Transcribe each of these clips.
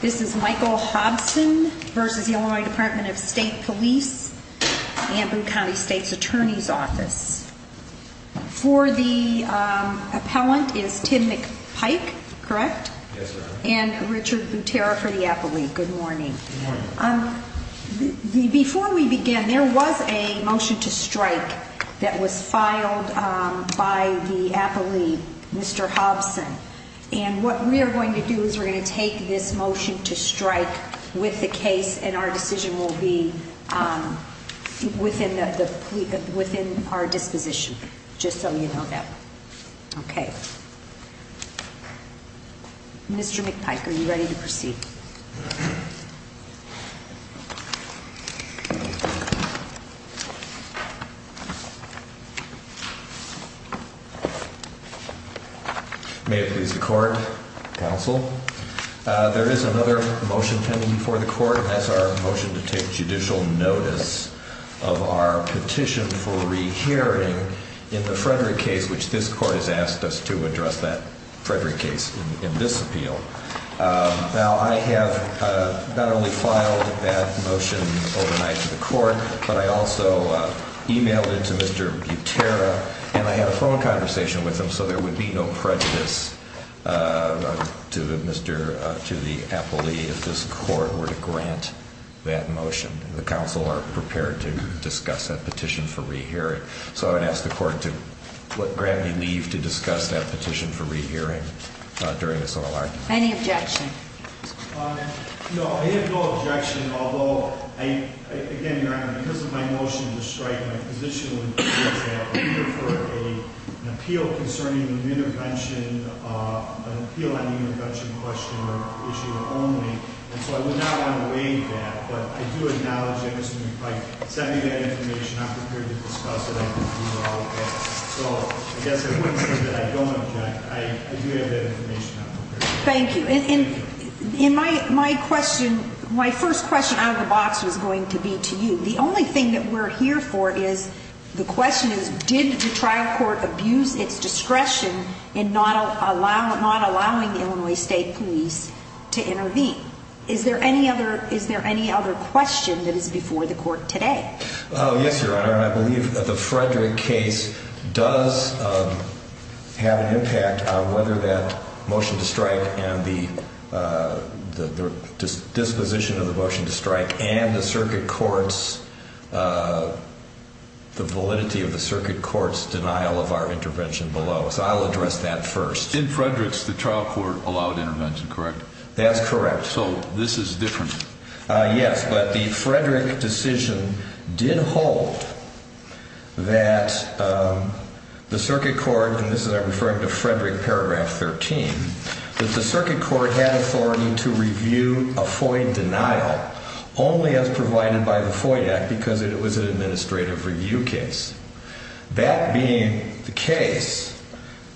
This is Michael Hobson v. Illinois Department of State Police, Amboon County State's Attorney's Office. For the appellant is Tim McPike, correct? Yes, ma'am. And Richard Butera for the appellee. Good morning. Good morning. Before we begin, there was a motion to strike that was filed by the appellee, Mr. Hobson. And what we are going to do is we're going to take this motion to strike with the case and our decision will be within our disposition, just so you know that. Okay. Mr. McPike, are you ready to proceed? May it please the court, counsel. There is another motion pending before the court, and that's our motion to take judicial notice of our petition for rehearing in the Frederick case, which this court has asked us to address that Frederick case in this appeal. Now, I have not only filed that motion overnight to the court, but I also emailed it to Mr. Butera, and I had a phone conversation with him, so there would be no prejudice to the appellee if this court were to grant that motion. The counsel are prepared to discuss that petition for rehearing, so I would ask the court to grant me leave to discuss that petition for rehearing during this hour. Any objection? No, I have no objection, although, again, Your Honor, because of my motion to strike, my position would be that I would prefer an appeal concerning an intervention, an appeal on the intervention question or issue only. And so I would not want to waive that, but I do acknowledge that Mr. McPike sent me that information. I'm prepared to discuss it. I can do all of that. So I guess I wouldn't say that I don't object. I'm prepared to discuss it. Thank you. In my question, my first question out of the box was going to be to you. The only thing that we're here for is the question is, did the trial court abuse its discretion in not allowing the Illinois State Police to intervene? Is there any other question that is before the court today? Oh, yes, Your Honor, and I believe that the Frederick case does have an impact on whether that motion to strike and the disposition of the motion to strike and the circuit court's, the validity of the circuit court's denial of our intervention below. So I'll address that first. In Frederick's, the trial court allowed intervention, correct? That's correct. So this is different. Yes, but the Frederick decision did hold that the circuit court, and this is referring to Frederick paragraph 13, that the circuit court had authority to review a FOIA denial only as provided by the FOIA Act because it was an administrative review case. That being the case,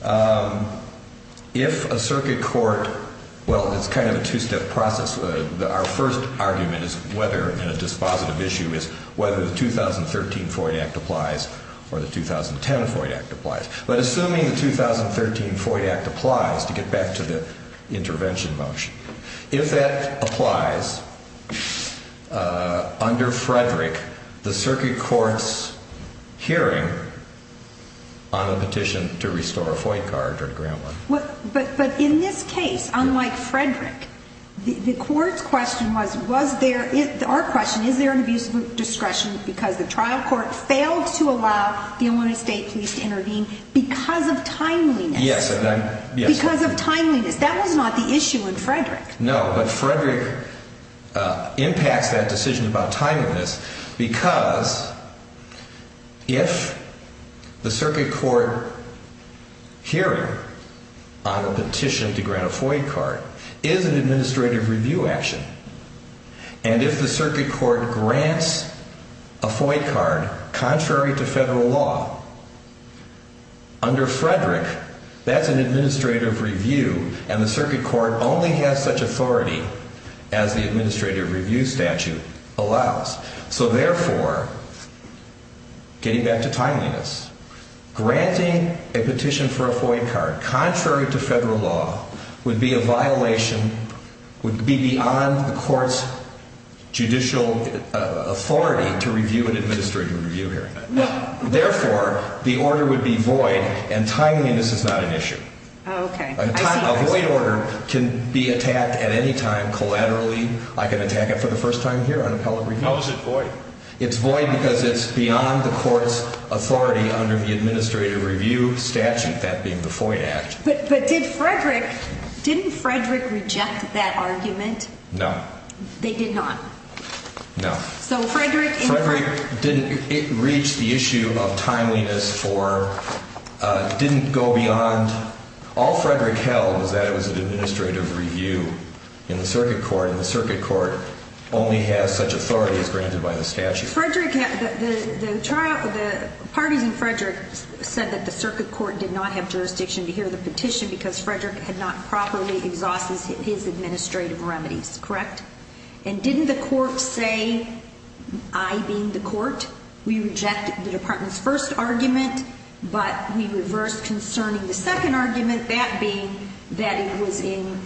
if a circuit court, well, it's kind of a two-step process. Our first argument is whether in a dispositive issue is whether the 2013 FOIA Act applies or the 2010 FOIA Act applies. But assuming the 2013 FOIA Act applies, to get back to the intervention motion, if that applies under Frederick, the circuit court's hearing on a petition to restore a FOIA card or a grant one. But in this case, unlike Frederick, the court's question was, was there, our question, is there an abuse of discretion because the trial court failed to allow the Illinois State Police to intervene because of timeliness? Yes. Because of timeliness. No, but Frederick impacts that decision about timeliness because if the circuit court hearing on a petition to grant a FOIA card is an administrative review action, and if the circuit court grants a FOIA card contrary to federal law, under Frederick, that's an administrative review. And the circuit court only has such authority as the administrative review statute allows. So therefore, getting back to timeliness, granting a petition for a FOIA card contrary to federal law would be a violation, would be beyond the court's judicial authority to review an administrative review hearing. Therefore, the order would be void and timeliness is not an issue. Okay. A void order can be attacked at any time collaterally. I can attack it for the first time here on appellate review. How is it void? It's void because it's beyond the court's authority under the administrative review statute, that being the FOIA Act. But did Frederick, didn't Frederick reject that argument? No. They did not? No. Frederick didn't reach the issue of timeliness for, didn't go beyond, all Frederick held was that it was an administrative review in the circuit court, and the circuit court only has such authority as granted by the statute. The parties in Frederick said that the circuit court did not have jurisdiction to hear the petition because Frederick had not properly exhausted his administrative remedies, correct? And didn't the court say, I being the court, we reject the department's first argument, but we reverse concerning the second argument, that being that it was in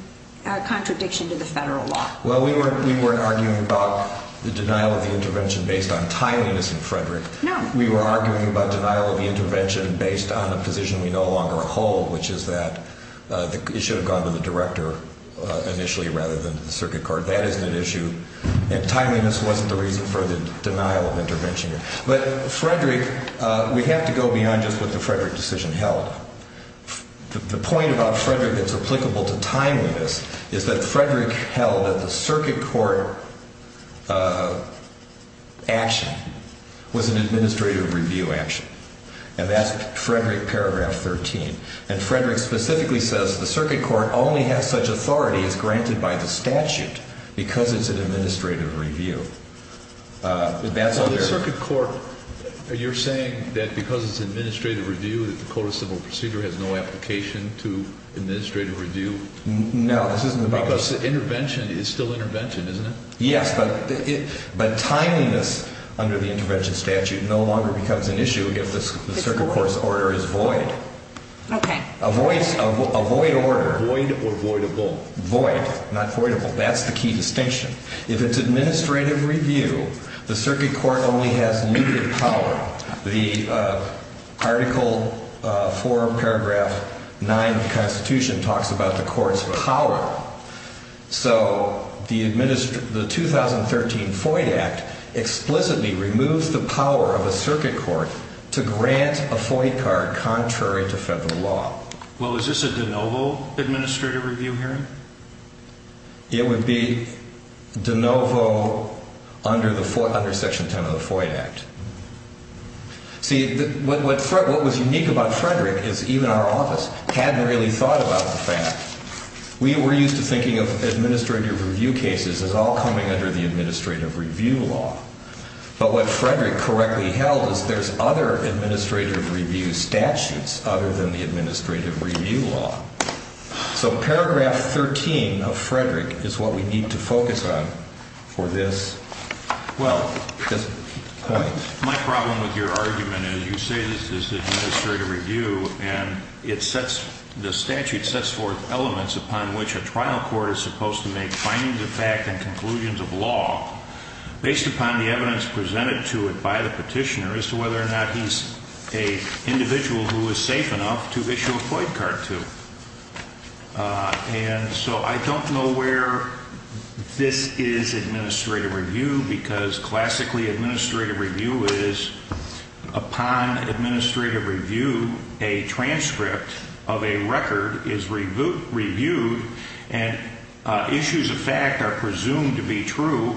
contradiction to the federal law? Well, we weren't arguing about the denial of the intervention based on timeliness in Frederick. No. We were arguing about denial of the intervention based on a position we no longer hold, which is that it should have gone to the director initially rather than the circuit court. That isn't an issue. And timeliness wasn't the reason for the denial of intervention. But Frederick, we have to go beyond just what the Frederick decision held. The point about Frederick that's applicable to timeliness is that Frederick held that the circuit court action was an administrative review action. And that's Frederick paragraph 13. And Frederick specifically says the circuit court only has such authority as granted by the statute because it's an administrative review. So the circuit court, you're saying that because it's an administrative review that the Code of Civil Procedure has no application to administrative review? No, this isn't about that. Because intervention is still intervention, isn't it? Yes, but timeliness under the intervention statute no longer becomes an issue if the circuit court's order is void. Okay. A void order. Void or voidable. Void, not voidable. That's the key distinction. If it's administrative review, the circuit court only has needed power. The Article 4 of Paragraph 9 of the Constitution talks about the court's power. So the 2013 Void Act explicitly removes the power of a circuit court to grant a void card contrary to federal law. Well, is this a de novo administrative review hearing? It would be de novo under Section 10 of the Void Act. See, what was unique about Frederick is even our office hadn't really thought about the fact. We were used to thinking of administrative review cases as all coming under the administrative review law. But what Frederick correctly held is there's other administrative review statutes other than the administrative review law. So Paragraph 13 of Frederick is what we need to focus on for this point. My problem with your argument is you say this is administrative review, and the statute sets forth elements upon which a trial court is supposed to make findings of fact and conclusions of law based upon the evidence presented to it by the petitioner as to whether or not he's an individual who is safe enough to issue a void card to. And so I don't know where this is administrative review because classically administrative review is upon administrative review, a transcript of a record is reviewed, and issues of fact are presumed to be true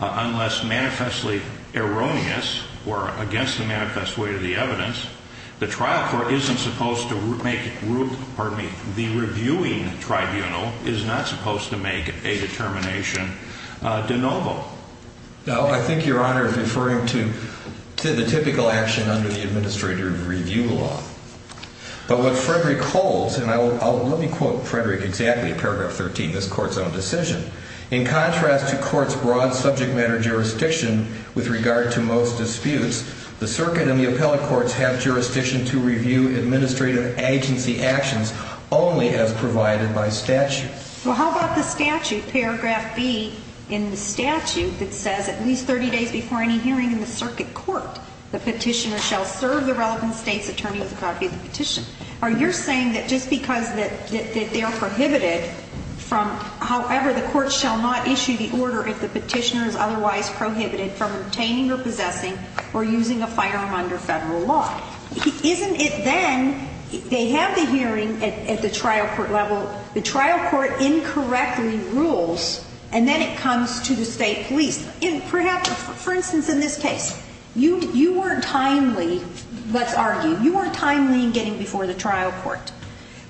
unless manifestly erroneous or against the manifest way of the evidence. The trial court isn't supposed to make, pardon me, the reviewing tribunal is not supposed to make a determination de novo. No, I think Your Honor is referring to the typical action under the administrative review law. But what Frederick holds, and let me quote Frederick exactly in Paragraph 13, this court's own decision, in contrast to court's broad subject matter jurisdiction with regard to most disputes, the circuit and the appellate courts have jurisdiction to review administrative agency actions only as provided by statute. Well, how about the statute, Paragraph B in the statute that says at least 30 days before any hearing in the circuit court, the petitioner shall serve the relevant state's attorney with a copy of the petition. Are you saying that just because they are prohibited from, however, the court shall not issue the order if the petitioner is otherwise prohibited from obtaining or possessing or using a firearm under federal law? Isn't it then, they have the hearing at the trial court level, the trial court incorrectly rules, and then it comes to the state police. Perhaps, for instance, in this case, you weren't timely, let's argue, you weren't timely in getting before the trial court.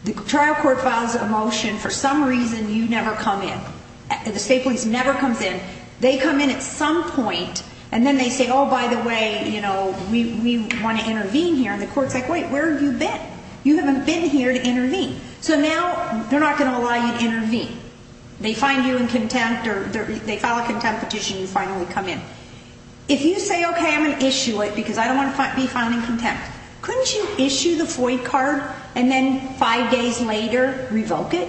The trial court files a motion, for some reason you never come in. The state police never comes in. They come in at some point, and then they say, oh, by the way, you know, we want to intervene here. And the court's like, wait, where have you been? You haven't been here to intervene. So now they're not going to allow you to intervene. They find you in contempt or they file a contempt petition and you finally come in. If you say, okay, I'm going to issue it because I don't want to be filed in contempt, couldn't you issue the FOIA card and then five days later revoke it?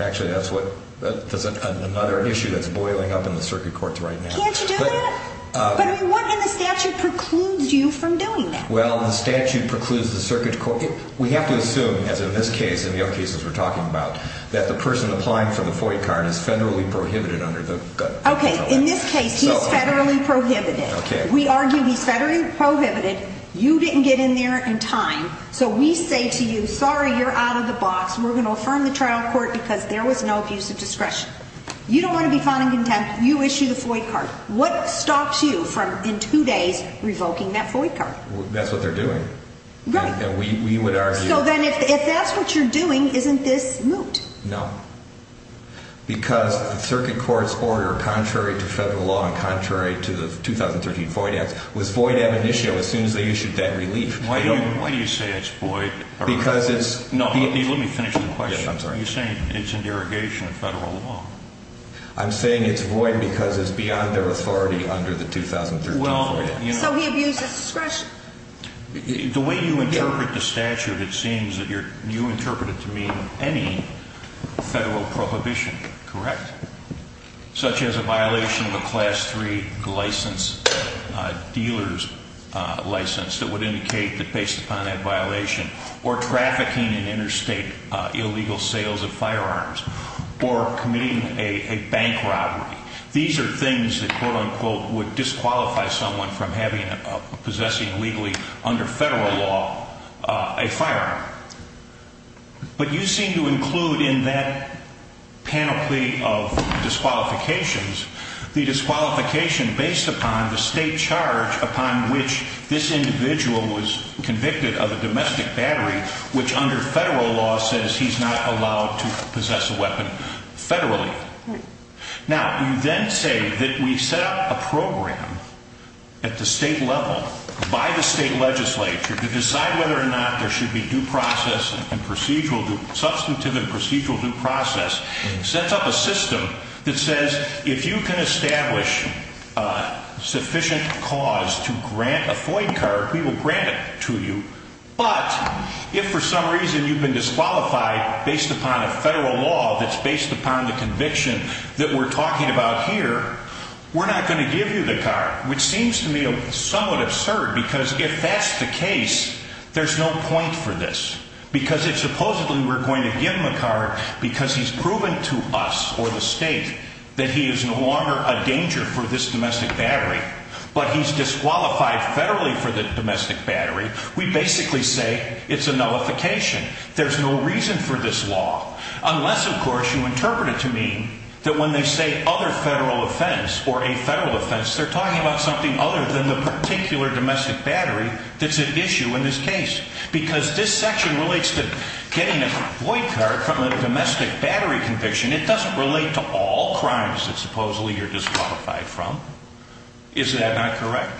Actually, that's another issue that's boiling up in the circuit courts right now. Can't you do that? But what in the statute precludes you from doing that? Well, the statute precludes the circuit court. We have to assume, as in this case and the other cases we're talking about, that the person applying for the FOIA card is federally prohibited under the federal law. Okay, in this case, he's federally prohibited. Okay. We argue he's federally prohibited. You didn't get in there in time. So we say to you, sorry, you're out of the box. We're going to affirm the trial court because there was no abuse of discretion. You don't want to be found in contempt. You issue the FOIA card. What stops you from in two days revoking that FOIA card? That's what they're doing. Right. We would argue. So then if that's what you're doing, isn't this moot? No. Because the circuit court's order, contrary to federal law and contrary to the 2013 FOIA Act, was FOIA to have an issue as soon as they issued that relief. Why do you say it's void? Because it's. Let me finish the question. Yes, I'm sorry. You're saying it's in derogation of federal law. I'm saying it's void because it's beyond their authority under the 2013 FOIA Act. So he abuses discretion. The way you interpret the statute, it seems that you interpret it to mean any federal prohibition, correct? Such as a violation of a Class 3 license, dealer's license, that would indicate that based upon that violation, or trafficking in interstate illegal sales of firearms, or committing a bank robbery. These are things that, quote, unquote, would disqualify someone from possessing legally under federal law a firearm. But you seem to include in that panoply of disqualifications, the disqualification based upon the state charge upon which this individual was convicted of a domestic battery, which under federal law says he's not allowed to possess a weapon federally. Now, you then say that we set up a program at the state level, by the state legislature, to decide whether or not there should be substantive and procedural due process. Sets up a system that says, if you can establish sufficient cause to grant a FOIA card, we will grant it to you. But, if for some reason you've been disqualified based upon a federal law that's based upon the conviction that we're talking about here, we're not going to give you the card. Which seems to me somewhat absurd, because if that's the case, there's no point for this. Because if supposedly we're going to give him a card because he's proven to us, or the state, that he is no longer a danger for this domestic battery, but he's disqualified federally for the domestic battery, we basically say it's a nullification. There's no reason for this law. Unless, of course, you interpret it to mean that when they say other federal offense, or a federal offense, they're talking about something other than the particular domestic battery that's at issue in this case. Because this section relates to getting a FOIA card from a domestic battery conviction. It doesn't relate to all crimes that supposedly you're disqualified from. Is that not correct?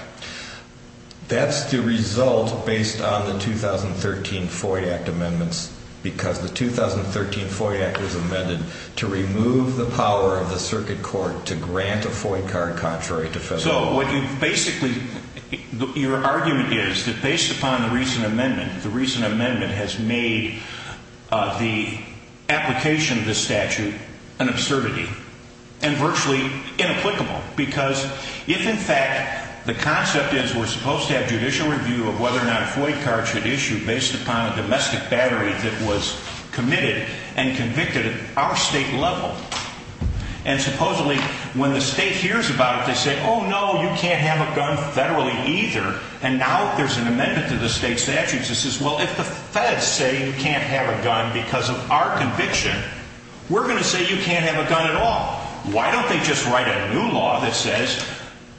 That's the result based on the 2013 FOIA Act amendments. Because the 2013 FOIA Act was amended to remove the power of the circuit court to grant a FOIA card contrary to federal law. So what you've basically, your argument is that based upon the recent amendment, the recent amendment has made the application of this statute an absurdity, and virtually inapplicable. Because if, in fact, the concept is we're supposed to have judicial review of whether or not a FOIA card should issue based upon a domestic battery that was committed and convicted at our state level. And supposedly when the state hears about it, they say, oh no, you can't have a gun federally either. And now there's an amendment to the state statute that says, well, if the feds say you can't have a gun because of our conviction, we're going to say you can't have a gun at all. Why don't they just write a new law that says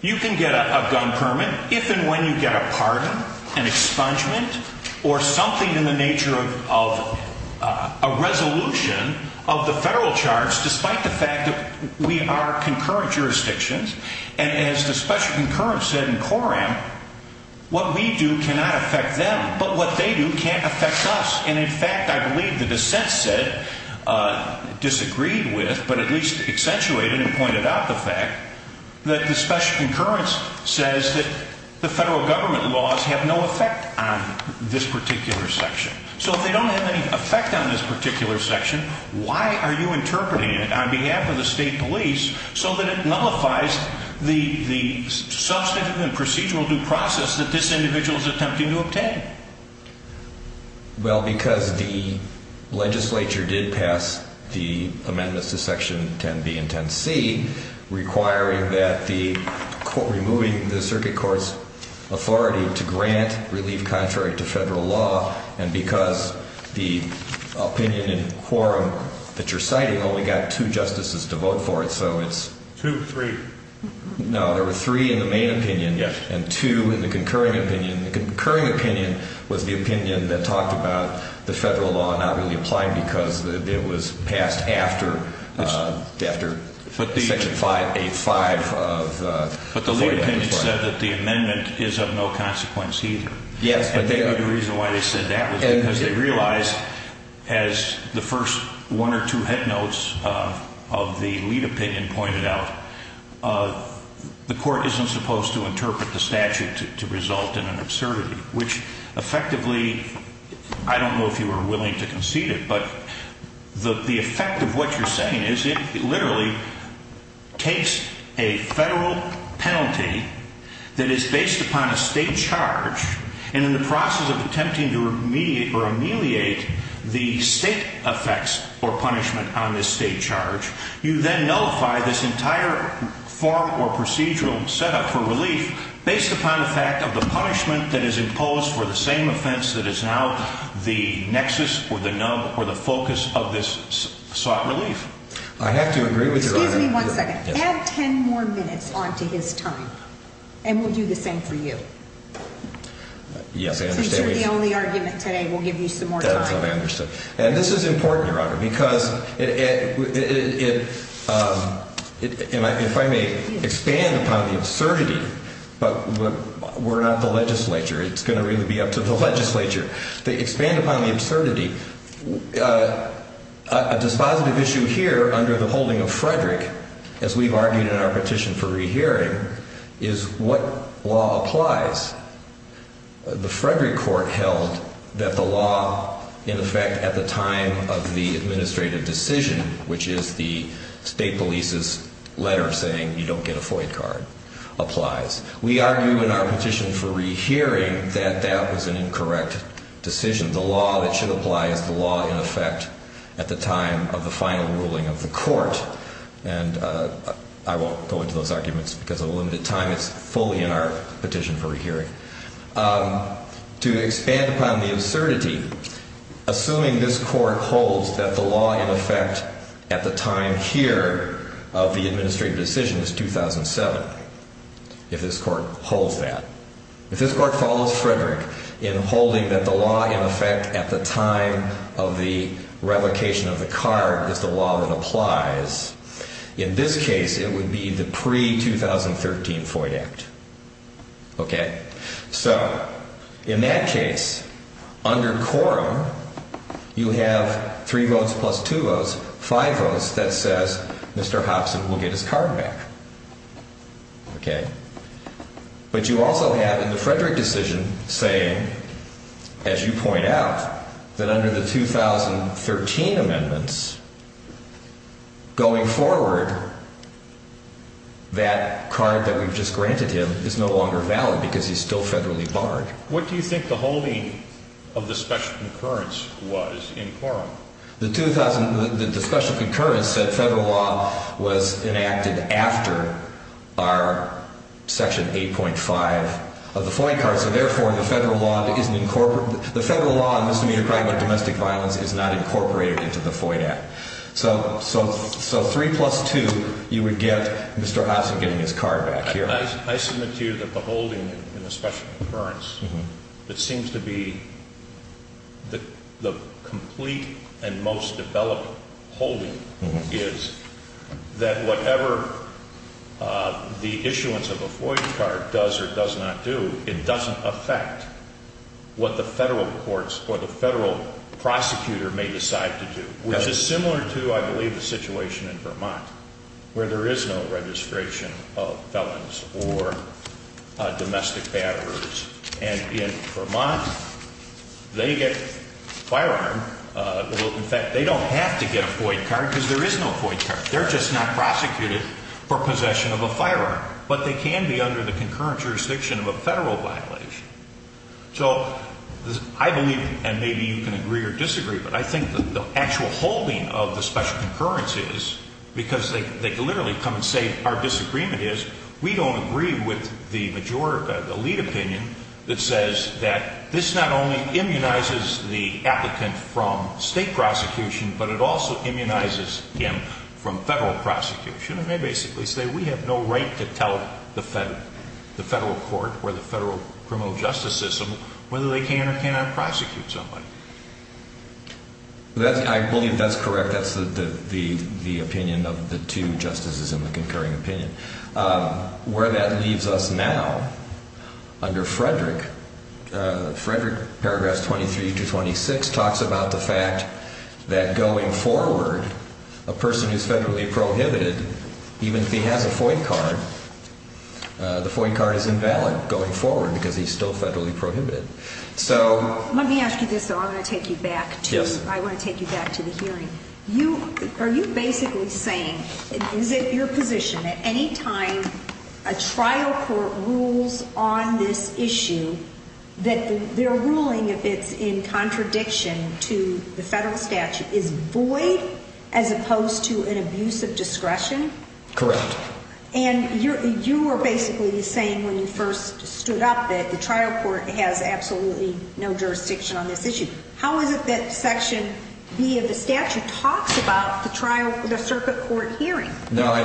you can get a gun permit if and when you get a pardon, an expungement, or something in the nature of a resolution of the federal charge, despite the fact that we are concurrent jurisdictions. And as the special concurrence said in Coram, what we do cannot affect them. But what they do can affect us. And in fact, I believe the dissent said, disagreed with, but at least accentuated and pointed out the fact, that the special concurrence says that the federal government laws have no effect on this particular section. So if they don't have any effect on this particular section, why are you interpreting it on behalf of the state police so that it nullifies the substantive and procedural due process Well, because the legislature did pass the amendments to section 10B and 10C, requiring that the, removing the circuit court's authority to grant relief contrary to federal law, and because the opinion in Coram that you're citing only got two justices to vote for it, so it's... Two, three. No, there were three in the main opinion. Yes. And two in the concurring opinion. The concurring opinion was the opinion that talked about the federal law not really applying because it was passed after, after section 585 of... But the lead opinion said that the amendment is of no consequence either. Yes. And they knew the reason why they said that was because they realized, as the first one or two head notes of the lead opinion pointed out, the court isn't supposed to interpret the statute to result in an absurdity, which effectively, I don't know if you were willing to concede it, but the effect of what you're saying is it literally takes a federal penalty that is based upon a state charge, and in the process of attempting to remediate or ameliorate the state effects or punishment on this state charge, you then nullify this entire form or procedural setup for relief based upon the fact of the punishment that is imposed for the same offense that is now the nexus or the nub or the focus of this sought relief. I have to agree with Your Honor. Excuse me one second. Yes. Add 10 more minutes onto his time, and we'll do the same for you. Yes, I understand. And this is important, Your Honor, because if I may expand upon the absurdity, but we're not the legislature. It's going to really be up to the legislature to expand upon the absurdity. A dispositive issue here under the holding of Frederick, as we've argued in our petition for rehearing, is what law applies. The Frederick court held that the law, in effect, at the time of the administrative decision, which is the state police's letter saying you don't get a FOIA card, applies. We argue in our petition for rehearing that that was an incorrect decision. The law that should apply is the law in effect at the time of the final ruling of the court, and I won't go into those arguments because of the limited time that's fully in our petition for rehearing. To expand upon the absurdity, assuming this court holds that the law, in effect, at the time here of the administrative decision is 2007, if this court holds that, if this court follows Frederick in holding that the law, in effect, at the time of the revocation of the card is the law that applies, in this case it would be the pre-2013 FOIA act. So in that case, under quorum, you have three votes plus two votes, five votes, that says Mr. Hobson will get his card back. But you also have in the Frederick decision saying, as you point out, that under the 2013 amendments, going forward, that card that we've just granted him is no longer valid because he's still federally barred. What do you think the holding of the special concurrence was in quorum? The special concurrence said federal law was enacted after our section 8.5 of the FOIA card, so therefore the federal law on misdemeanor crime and domestic violence is not incorporated into the FOIA act. So three plus two, you would get Mr. Hobson getting his card back here. I submit to you that the holding in the special concurrence that seems to be the complete and most developed holding is that whatever the issuance of a FOIA card does or does not do, it doesn't affect what the federal courts or the federal prosecutor may decide to do, which is similar to, I believe, the situation in Vermont where there is no registration of felons or domestic batterers. And in Vermont, they get a firearm. In fact, they don't have to get a FOIA card because there is no FOIA card. They're just not prosecuted for possession of a firearm. But they can be under the concurrent jurisdiction of a federal violation. So I believe, and maybe you can agree or disagree, but I think the actual holding of the special concurrence is, because they literally come and say our disagreement is, we don't agree with the lead opinion that says that this not only immunizes the applicant from state prosecution, but it also immunizes him from federal prosecution. And they basically say we have no right to tell the federal court or the federal criminal justice system whether they can or cannot prosecute somebody. I believe that's correct. That's the opinion of the two justices in the concurring opinion. Where that leaves us now, under Frederick, Frederick, paragraphs 23 to 26, talks about the fact that going forward, a person who is federally prohibited, even if he has a FOIA card, the FOIA card is invalid going forward because he's still federally prohibited. Let me ask you this, though. I want to take you back to the hearing. Are you basically saying, is it your position that any time a trial court rules on this issue, that their ruling, if it's in contradiction to the federal statute, is void as opposed to an abuse of discretion? Correct. And you were basically saying when you first stood up that the trial court has absolutely no jurisdiction on this issue. How is it that Section B of the statute talks about the circuit court hearing? Now,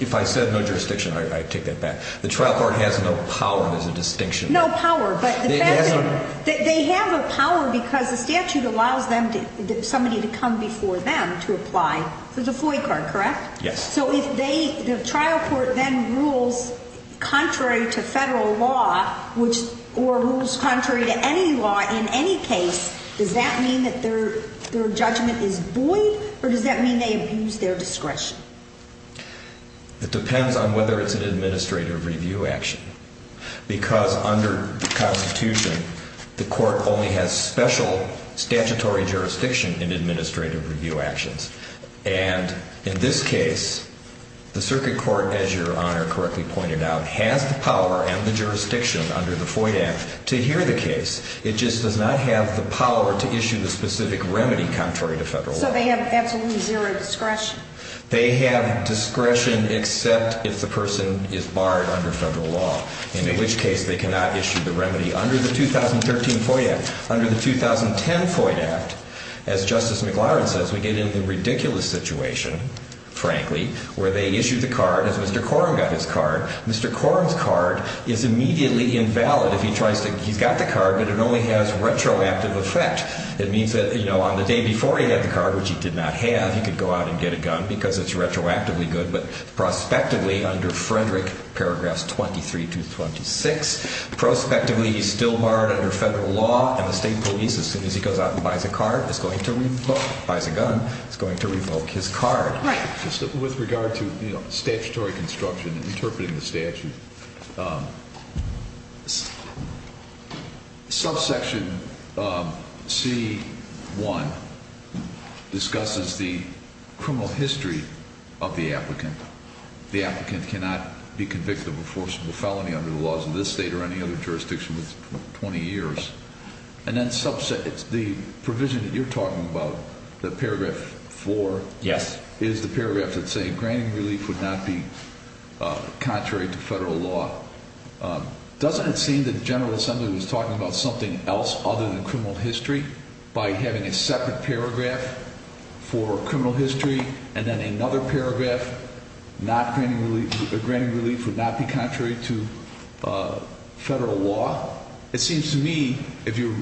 if I said no jurisdiction, I take that back. The trial court has no power as a distinction. No power, but they have a power because the statute allows somebody to come before them to apply for the FOIA card, correct? Yes. So if the trial court then rules contrary to federal law or rules contrary to any law in any case, does that mean that their judgment is void or does that mean they abuse their discretion? It depends on whether it's an administrative review action because under the Constitution, the court only has special statutory jurisdiction in administrative review actions. And in this case, the circuit court, as Your Honor correctly pointed out, has the power and the jurisdiction under the FOIA Act to hear the case. It just does not have the power to issue the specific remedy contrary to federal law. So they have absolutely zero discretion? They have discretion except if the person is barred under federal law, in which case they cannot issue the remedy under the 2013 FOIA Act. Under the 2010 FOIA Act, as Justice McLaren says, we get into the ridiculous situation, frankly, where they issue the card as Mr. Corum got his card. Mr. Corum's card is immediately invalid if he tries to – he's got the card, but it only has retroactive effect. It means that, you know, on the day before he had the card, which he did not have, he could go out and get a gun because it's retroactively good, but prospectively under Frederick, paragraphs 23 to 26, prospectively he's still barred under federal law, and the state police, as soon as he goes out and buys a card, is going to revoke – buys a gun, is going to revoke his card. Right. Just with regard to, you know, statutory construction and interpreting the statute, subsection C1 discusses the criminal history of the applicant. The applicant cannot be convicted of a forcible felony under the laws of this state or any other jurisdiction for 20 years. And then the provision that you're talking about, the paragraph 4, is the paragraph that's saying granting relief would not be contrary to federal law. Doesn't it seem that the General Assembly was talking about something else other than criminal history by having a separate paragraph for criminal history and then another paragraph granting relief would not be contrary to federal law? It seems to me, if you're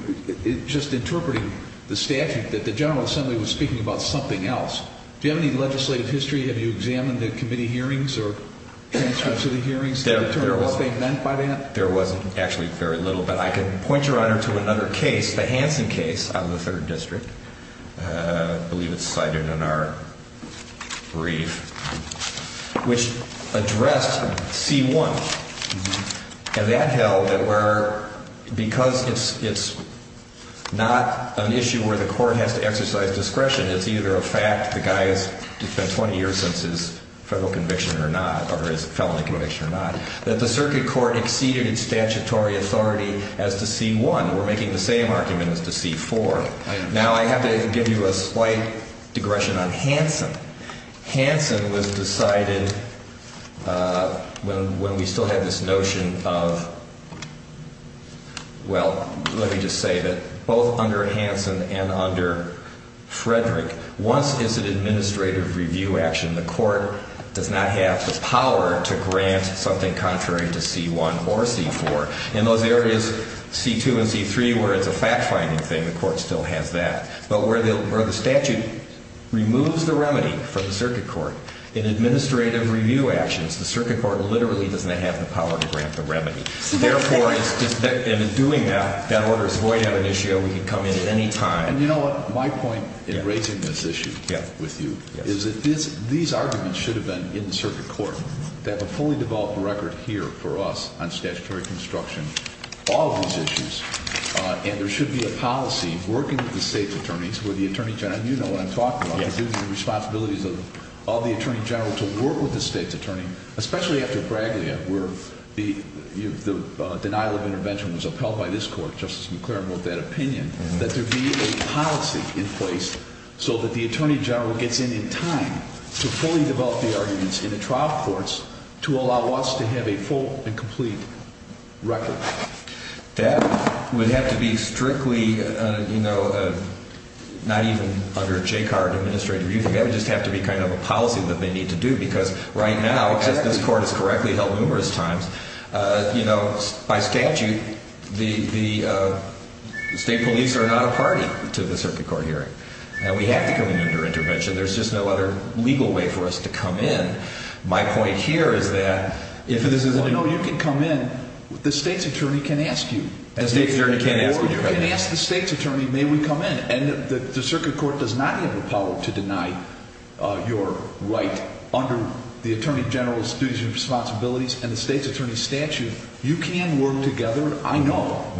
just interpreting the statute, that the General Assembly was speaking about something else. Do you have any legislative history? Have you examined the committee hearings or transcripts of the hearings to determine what they meant by that? There wasn't actually very little, but I can point your Honor to another case, the Hansen case out of the Third District. I believe it's cited in our brief, which addressed C1. And that held that because it's not an issue where the court has to exercise discretion, it's either a fact the guy has spent 20 years since his federal conviction or not, or his felony conviction or not, that the circuit court exceeded its statutory authority as to C1. We're making the same argument as to C4. Now, I have to give you a slight digression on Hansen. Hansen was decided when we still had this notion of, well, let me just say that both under Hansen and under Frederick, once it's an administrative review action, the court does not have the power to grant something contrary to C1 or C4. In those areas, C2 and C3, where it's a fact-finding thing, the court still has that. But where the statute removes the remedy for the circuit court in administrative review actions, the circuit court literally does not have the power to grant the remedy. Therefore, in doing that, that order is void of an issue. We can come in at any time. And you know what? My point in raising this issue with you is that these arguments should have been in the circuit court to have a fully developed record here for us on statutory construction, all of these issues. And there should be a policy working with the state's attorneys, where the attorney general, and you know what I'm talking about, the duties and responsibilities of all the attorney general to work with the state's attorney, especially after Braglia, where the denial of intervention was upheld by this court. Justice McClaren wrote that opinion, that there be a policy in place so that the attorney general gets in in time to fully develop the arguments in the trial courts to allow us to have a full and complete record. That would have to be strictly, you know, not even under JCAR administrative review. That would just have to be kind of a policy that they need to do, because right now, as this court has correctly held numerous times, you know, by statute, the state police are not a party to the circuit court hearing. We have to come in under intervention. There's just no other legal way for us to come in. My point here is that if you want to know you can come in, the state's attorney can ask you. Or you can ask the state's attorney, may we come in. And the circuit court does not have the power to deny your right under the attorney general's duties and responsibilities and the state's attorney's statute. You can work together, I know,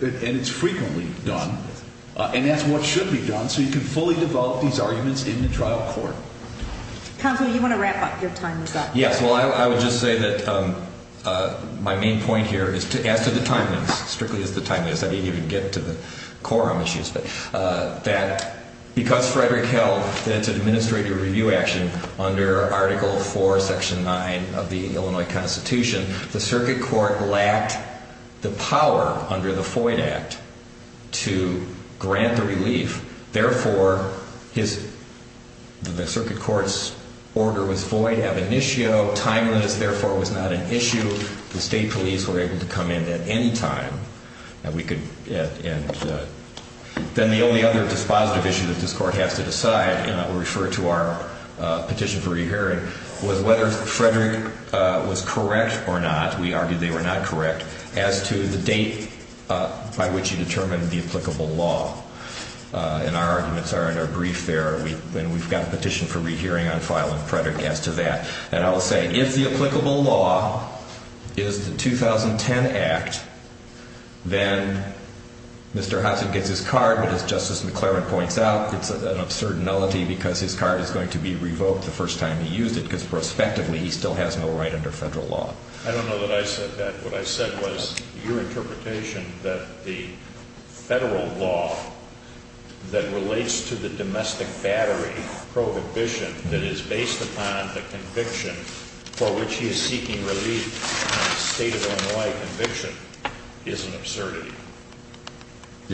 and it's frequently done, and that's what should be done, so you can fully develop these arguments in the trial court. Counsel, you want to wrap up your time with that? Yes. Well, I would just say that my main point here is, as to the timeliness, strictly as to the timeliness, I didn't even get to the quorum issues, but that because Frederick held that it's an administrative review action under Article IV, Section 9 of the Illinois Constitution, the circuit court lacked the power under the Foyd Act to grant the relief. Therefore, the circuit court's order was void, ab initio, timeless, therefore it was not an issue. The state police were able to come in at any time. Then the only other dispositive issue that this court has to decide, and I will refer to our petition for re-hearing, was whether Frederick was correct or not, we argued they were not correct, as to the date by which he determined the applicable law. And our arguments are in our brief there, and we've got a petition for re-hearing on filing Frederick as to that. And I will say, if the applicable law is the 2010 Act, then Mr. Hudson gets his card, as Justice McClaren points out, it's an absurd nullity because his card is going to be revoked the first time he used it, because prospectively he still has no right under federal law. I don't know that I said that. What I said was your interpretation that the federal law that relates to the domestic battery prohibition that is based upon the conviction for which he is seeking relief, a state of Illinois conviction, is an absurdity.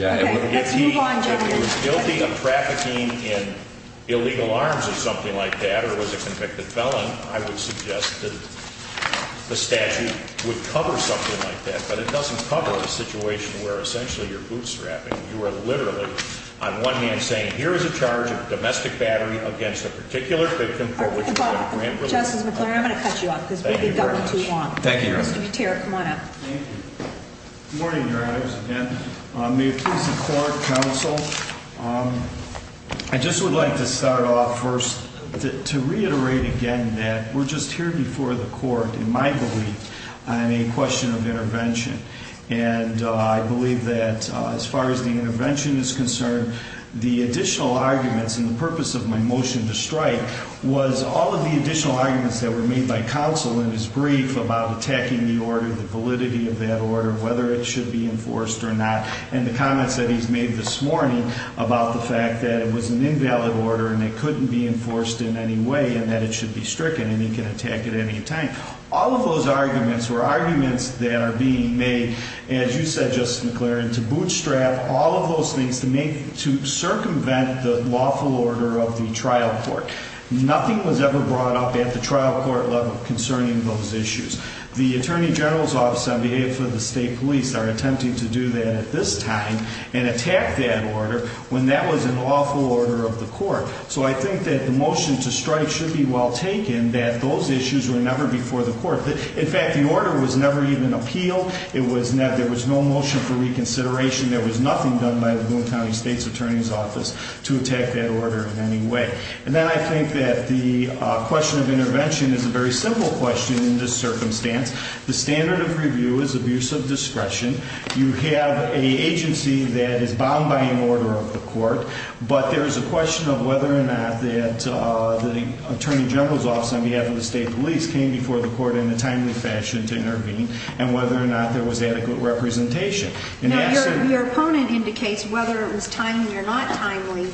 If he was guilty of trafficking in illegal arms or something like that, or was a convicted felon, I would suggest that the statute would cover something like that. But it doesn't cover a situation where essentially you're bootstrapping. You are literally, on one hand, saying here is a charge of domestic battery against a particular victim for which you have a grant relief. Justice McClaren, I'm going to cut you off because we've gotten too long. Thank you, Your Honor. Mr. Gutierrez, come on up. Thank you. Good morning, Your Honors, again. May it please the Court, Counsel. I just would like to start off first to reiterate again that we're just here before the Court, in my belief, on a question of intervention. And I believe that as far as the intervention is concerned, the additional arguments and the purpose of my motion to strike was all of the additional arguments that were made by Counsel in his brief about attacking the order, the validity of that order, whether it should be enforced or not, and the comments that he's made this morning about the fact that it was an invalid order and it couldn't be enforced in any way and that it should be stricken and he can attack at any time. All of those arguments were arguments that are being made, as you said, Justice McClaren, to bootstrap all of those things to circumvent the lawful order of the trial court. Nothing was ever brought up at the trial court level concerning those issues. The Attorney General's Office on Behavior for the State Police are attempting to do that at this time and attack that order when that was a lawful order of the Court. So I think that the motion to strike should be well taken that those issues were never before the Court. In fact, the order was never even appealed. There was no motion for reconsideration. There was nothing done by the Laguna County State's Attorney's Office to attack that order in any way. And then I think that the question of intervention is a very simple question in this circumstance. The standard of review is abuse of discretion. You have an agency that is bound by an order of the Court, but there is a question of whether or not the Attorney General's Office on behalf of the State Police came before the Court in a timely fashion to intervene and whether or not there was adequate representation. Now, your opponent indicates whether it was timely or not timely,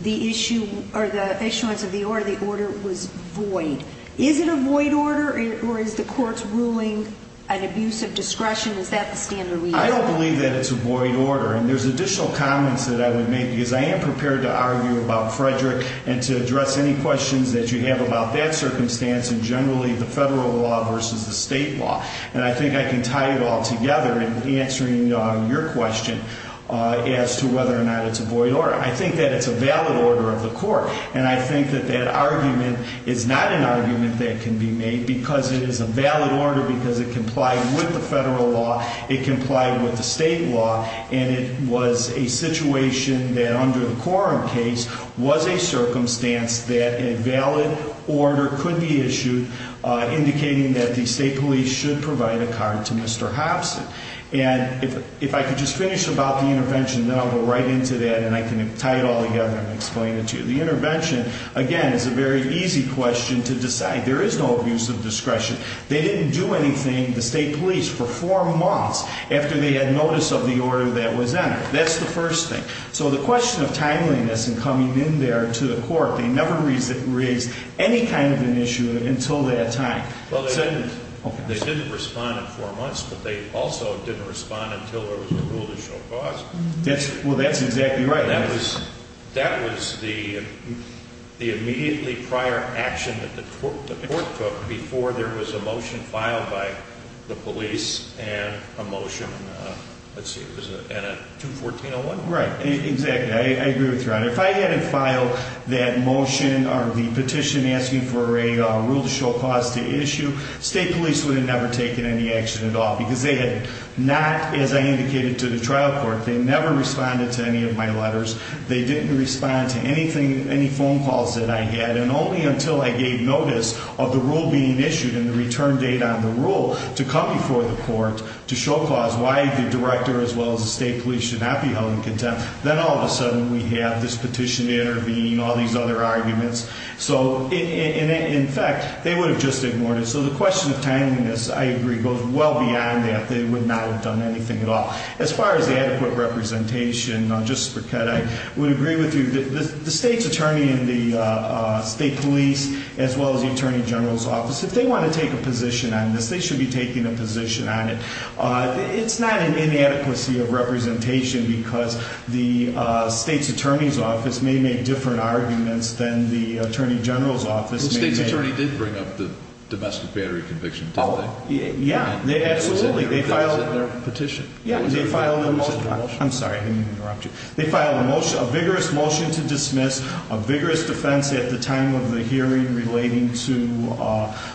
the issuance of the order. The order was void. Is it a void order, or is the Court's ruling an abuse of discretion? Is that the standard review? I don't believe that it's a void order, and there's additional comments that I would make because I am prepared to argue about Frederick and to address any questions that you have about that circumstance and generally the federal law versus the state law. And I think I can tie it all together in answering your question as to whether or not it's a void order. I think that it's a valid order of the Court, and I think that that argument is not an argument that can be made because it is a valid order because it complied with the federal law, it complied with the state law, and it was a situation that under the Coram case was a circumstance that a valid order could be issued indicating that the state police should provide a card to Mr. Hobson. And if I could just finish about the intervention, then I'll go right into that, and I can tie it all together and explain it to you. The intervention, again, is a very easy question to decide. There is no abuse of discretion. They didn't do anything, the state police, for four months after they had notice of the order that was entered. That's the first thing. So the question of timeliness in coming in there to the Court, they never raised any kind of an issue until that time. Well, they didn't respond in four months, but they also didn't respond until there was a rule to show cause. Well, that's exactly right. That was the immediately prior action that the Court took before there was a motion filed by the police and a motion, let's see, was it in a 214-01? Right, exactly. I agree with you on that. If I had filed that motion or the petition asking for a rule to show cause to issue, state police would have never taken any action at all because they had not, as I indicated to the trial court, they never responded to any of my letters. They didn't respond to anything, any phone calls that I had, and only until I gave notice of the rule being issued and the return date on the rule to come before the Court to show cause why the director as well as the state police should not be held in contempt. Then all of a sudden we have this petition intervening, all these other arguments. So in fact, they would have just ignored it. So the question of timeliness, I agree, goes well beyond that. They would not have done anything at all. As far as the adequate representation, just for cut, I would agree with you. The state's attorney and the state police as well as the attorney general's office, if they want to take a position on this, they should be taking a position on it. It's not an inadequacy of representation because the state's attorney's office may make different arguments than the attorney general's office may make. The state's attorney did bring up the domestic battery conviction today. Yeah, absolutely. They filed a motion. I'm sorry, I didn't mean to interrupt you. They filed a vigorous motion to dismiss, a vigorous defense at the time of the hearing relating to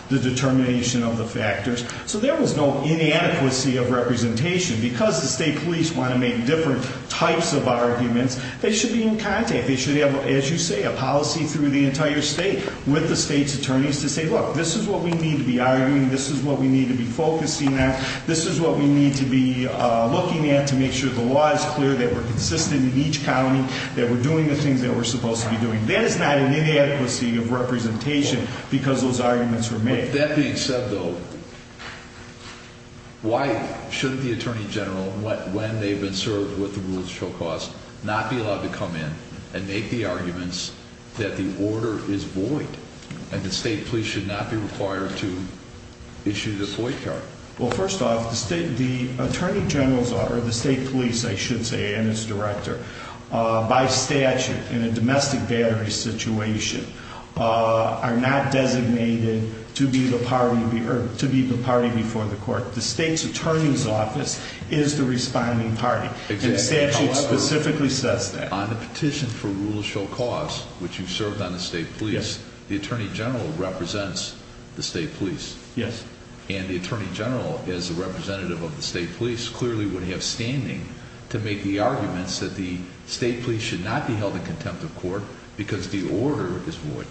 the determination of the factors. So there was no inadequacy of representation. Because the state police want to make different types of arguments, they should be in contact. They should have, as you say, a policy through the entire state with the state's attorneys to say, look, this is what we need to be arguing, this is what we need to be focusing on, this is what we need to be looking at to make sure the law is clear, that we're consistent in each county, that we're doing the things that we're supposed to be doing. That is not an inadequacy of representation because those arguments were made. With that being said, though, why shouldn't the attorney general, when they've been served with the rules of show cause, not be allowed to come in and make the arguments that the order is void and the state police should not be required to issue the void card? Well, first off, the attorney general's office, or the state police, I should say, and its director, by statute, in a domestic battery situation, are not designated to be the party before the court. The state's attorney's office is the responding party, and the statute specifically says that. On the petition for rules of show cause, which you served on the state police, the attorney general represents the state police. Yes. And the attorney general, as a representative of the state police, clearly would have standing to make the arguments that the state police should not be held in contempt of court because the order is void.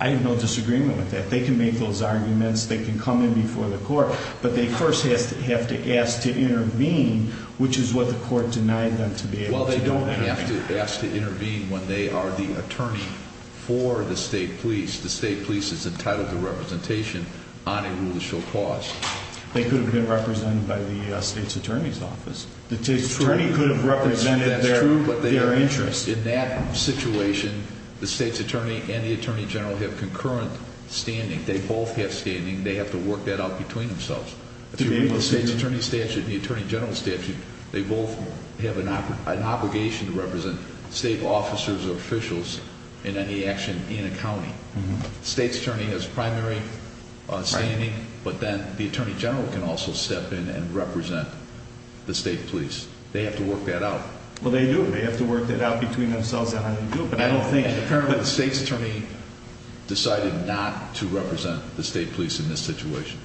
I have no disagreement with that. They can make those arguments, they can come in before the court, but they first have to ask to intervene, which is what the court denied them to be able to do. Well, they don't have to ask to intervene when they are the attorney for the state police. The state police is entitled to representation on a rule of show cause. They could have been represented by the state's attorney's office. The state's attorney could have represented their interests. That's true, but in that situation, the state's attorney and the attorney general have concurrent standing. They both have standing. They have to work that out between themselves. Between the state's attorney's statute and the attorney general's statute, they both have an obligation to represent state officers or officials in any action in a county. The state's attorney has primary standing, but then the attorney general can also step in and represent the state police. They have to work that out. Well, they do. They have to work that out between themselves. I don't think. And apparently the state's attorney decided not to represent the state police in this situation,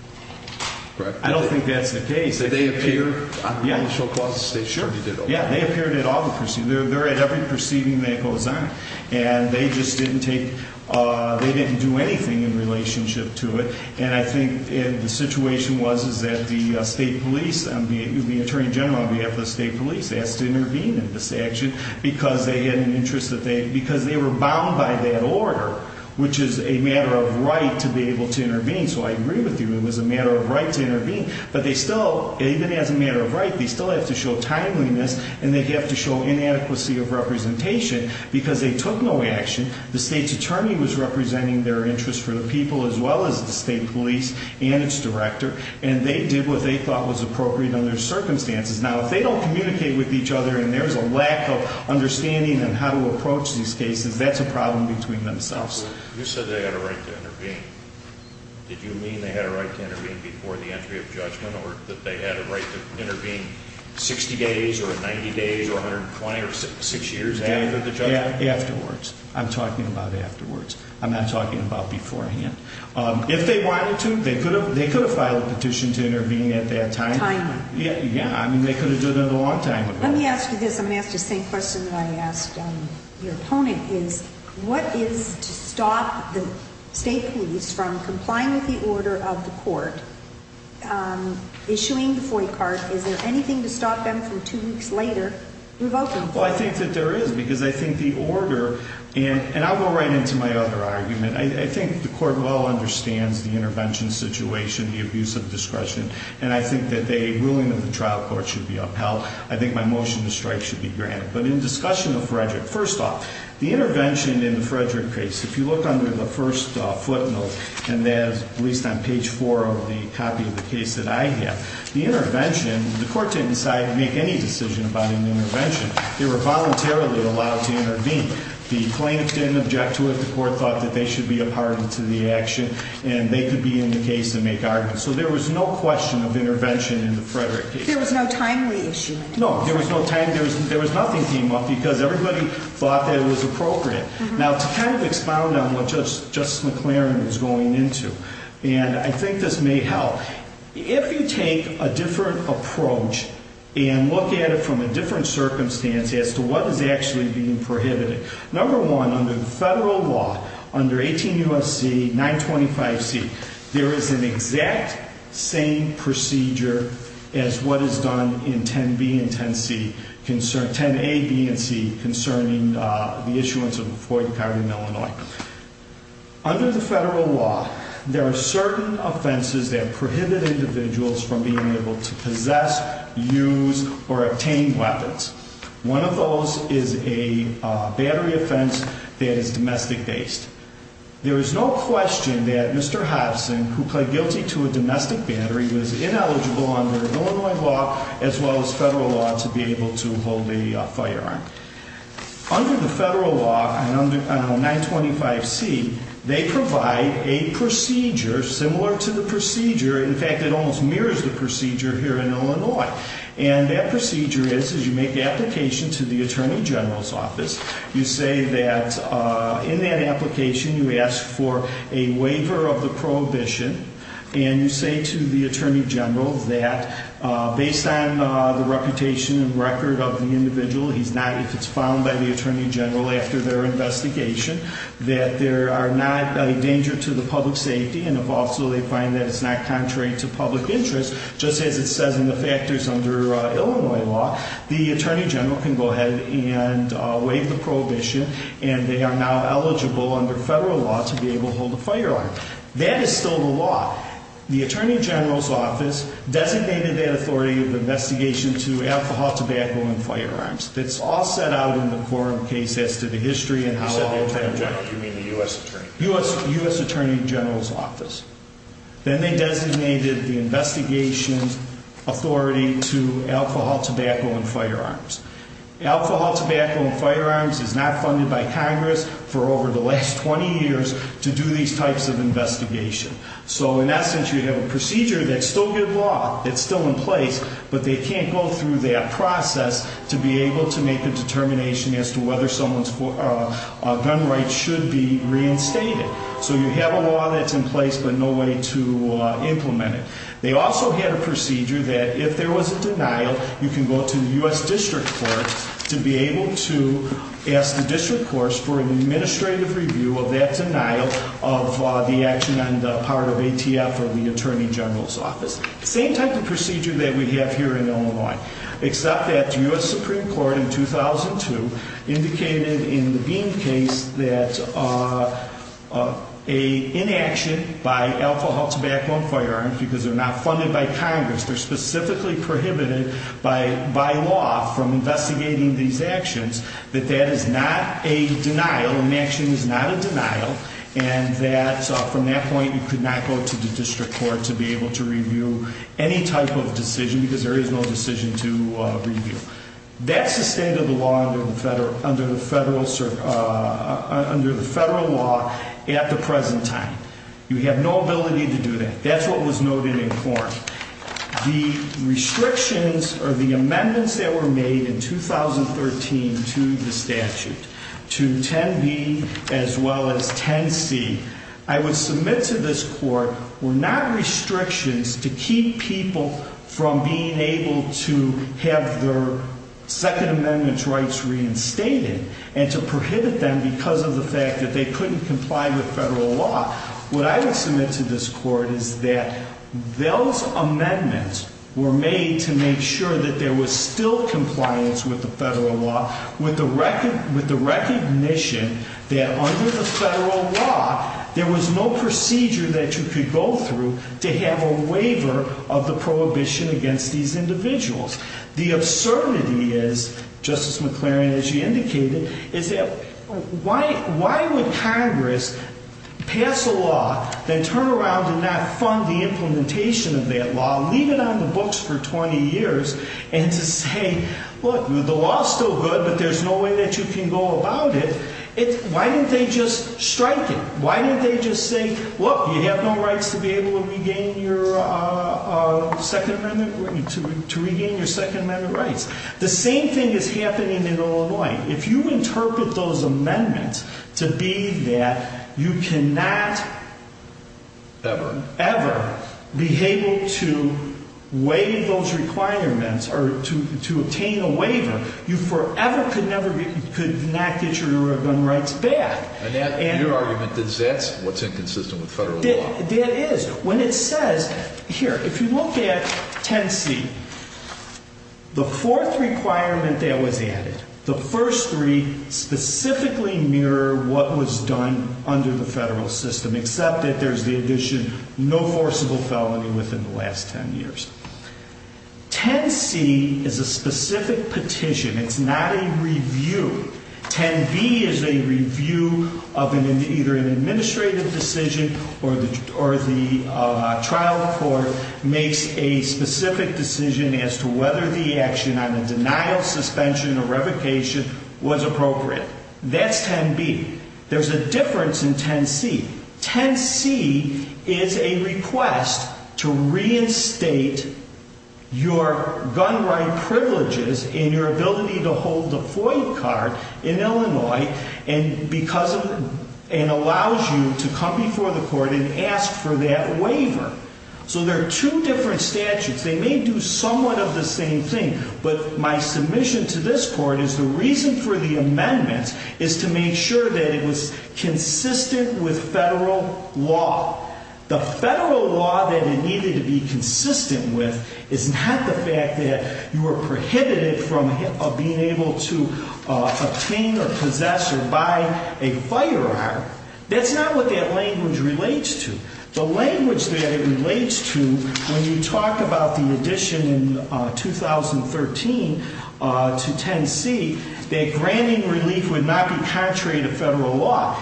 correct? I don't think that's the case. Did they appear on the rule of show cause? The state's attorney did. Yeah, they appeared at all the proceedings. They're at every proceeding that goes on, and they just didn't take, they didn't do anything in relationship to it. And I think the situation was that the state police, the attorney general on behalf of the state police, asked to intervene in this action because they had an interest that they, because they were bound by that order, which is a matter of right to be able to intervene. So I agree with you. It was a matter of right to intervene. But they still, even as a matter of right, they still have to show timeliness, and they have to show inadequacy of representation because they took no action. The state's attorney was representing their interest for the people as well as the state police and its director, and they did what they thought was appropriate under the circumstances. Now, if they don't communicate with each other and there's a lack of understanding on how to approach these cases, that's a problem between themselves. You said they had a right to intervene. Did you mean they had a right to intervene before the entry of judgment or that they had a right to intervene 60 days or 90 days or 120 or six years after the judgment? Afterwards. I'm talking about afterwards. I'm not talking about beforehand. Timely. Yeah, I mean, they could have done that a long time ago. Let me ask you this. I'm going to ask the same question that I asked your opponent, is what is to stop the state police from complying with the order of the court issuing the FOIA card? Is there anything to stop them from two weeks later revoking FOIA? Well, I think that there is because I think the order, and I'll go right into my other argument. I think the court well understands the intervention situation, the abuse of discretion, and I think that the ruling of the trial court should be upheld. I think my motion to strike should be granted. But in discussion of Frederick, first off, the intervention in the Frederick case, if you look under the first footnote, and that is at least on page 4 of the copy of the case that I have, the intervention, the court didn't decide to make any decision about an intervention. They were voluntarily allowed to intervene. The plaintiff didn't object to it. The court thought that they should be a part of the action, and they could be in the case and make arguments. So there was no question of intervention in the Frederick case. There was no timely issue. No, there was no time. There was nothing came up because everybody thought that it was appropriate. Now, to kind of expound on what Justice McLaren was going into, and I think this may help, if you take a different approach and look at it from a different circumstance as to what is actually being prohibited, number one, under the federal law, under 18 U.S.C. 925C, there is an exact same procedure as what is done in 10B and 10C, 10A, B, and C, concerning the issuance of the Floyd card in Illinois. Under the federal law, there are certain offenses that prohibit individuals from being able to possess, use, or obtain weapons. One of those is a battery offense that is domestic-based. There is no question that Mr. Hobson, who pled guilty to a domestic battery, was ineligible under Illinois law as well as federal law to be able to hold a firearm. Under the federal law, under 925C, they provide a procedure similar to the procedure, in fact, it almost mirrors the procedure here in Illinois. And that procedure is you make the application to the attorney general's office. You say that in that application you ask for a waiver of the prohibition, and you say to the attorney general that based on the reputation and record of the individual, if it's found by the attorney general after their investigation, that there are not a danger to the public safety, and if also they find that it's not contrary to public interest, just as it says in the factors under Illinois law, the attorney general can go ahead and waive the prohibition, and they are now eligible under federal law to be able to hold a firearm. That is still the law. The attorney general's office designated that authority of investigation to alcohol, tobacco, and firearms. It's all set out in the quorum case as to the history and how all of that works. You said the attorney general. You mean the U.S. attorney? U.S. attorney general's office. Then they designated the investigation authority to alcohol, tobacco, and firearms. Alcohol, tobacco, and firearms is not funded by Congress for over the last 20 years to do these types of investigation. So in essence, you have a procedure that's still good law, that's still in place, but they can't go through that process to be able to make a determination as to whether someone's gun rights should be reinstated. So you have a law that's in place, but no way to implement it. They also had a procedure that if there was a denial, you can go to the U.S. district court to be able to ask the district court for an administrative review of that denial of the action on the part of ATF or the attorney general's office. Same type of procedure that we have here in Illinois, except that the U.S. Supreme Court in 2002 indicated in the Beam case that an inaction by alcohol, tobacco, and firearms, because they're not funded by Congress, they're specifically prohibited by law from investigating these actions, that that is not a denial, an inaction is not a denial, and that from that point you could not go to the district court to be able to review any type of decision because there is no decision to review. That's the state of the law under the federal law at the present time. You have no ability to do that. That's what was noted in court. The restrictions or the amendments that were made in 2013 to the statute, to 10b as well as 10c, I would submit to this court were not restrictions to keep people from being able to have their Second Amendment rights reinstated and to prohibit them because of the fact that they couldn't comply with federal law. What I would submit to this court is that those amendments were made to make sure that there was still compliance with the federal law with the recognition that under the federal law there was no procedure that you could go through to have a waiver of the prohibition against these individuals. The absurdity is, Justice McClaren, as you indicated, is that why would Congress pass a law then turn around and not fund the implementation of that law, leave it on the books for 20 years, and to say, look, the law is still good, but there's no way that you can go about it. Why didn't they just strike it? Why didn't they just say, look, you have no rights to be able to regain your Second Amendment rights. If you interpret those amendments to be that you cannot ever be able to waive those requirements or to obtain a waiver, you forever could not get your gun rights back. And your argument is that's what's inconsistent with federal law. When it says, here, if you look at 10C, the fourth requirement that was added, the first three specifically mirror what was done under the federal system, except that there's the addition no forcible felony within the last 10 years. 10C is a specific petition. It's not a review. 10B is a review of either an administrative decision or the trial court makes a specific decision as to whether the action on the denial, suspension, or revocation was appropriate. That's 10B. There's a difference in 10C. 10C is a request to reinstate your gun right privileges and your ability to hold the FOIA card in Illinois and allows you to come before the court and ask for that waiver. So there are two different statutes. They may do somewhat of the same thing. But my submission to this court is the reason for the amendments is to make sure that it was consistent with federal law. The federal law that it needed to be consistent with is not the fact that you are prohibited from being able to obtain or possess or buy a firearm. That's not what that language relates to. The language that it relates to when you talk about the addition in 2013 to 10C, that granting relief would not be contrary to federal law.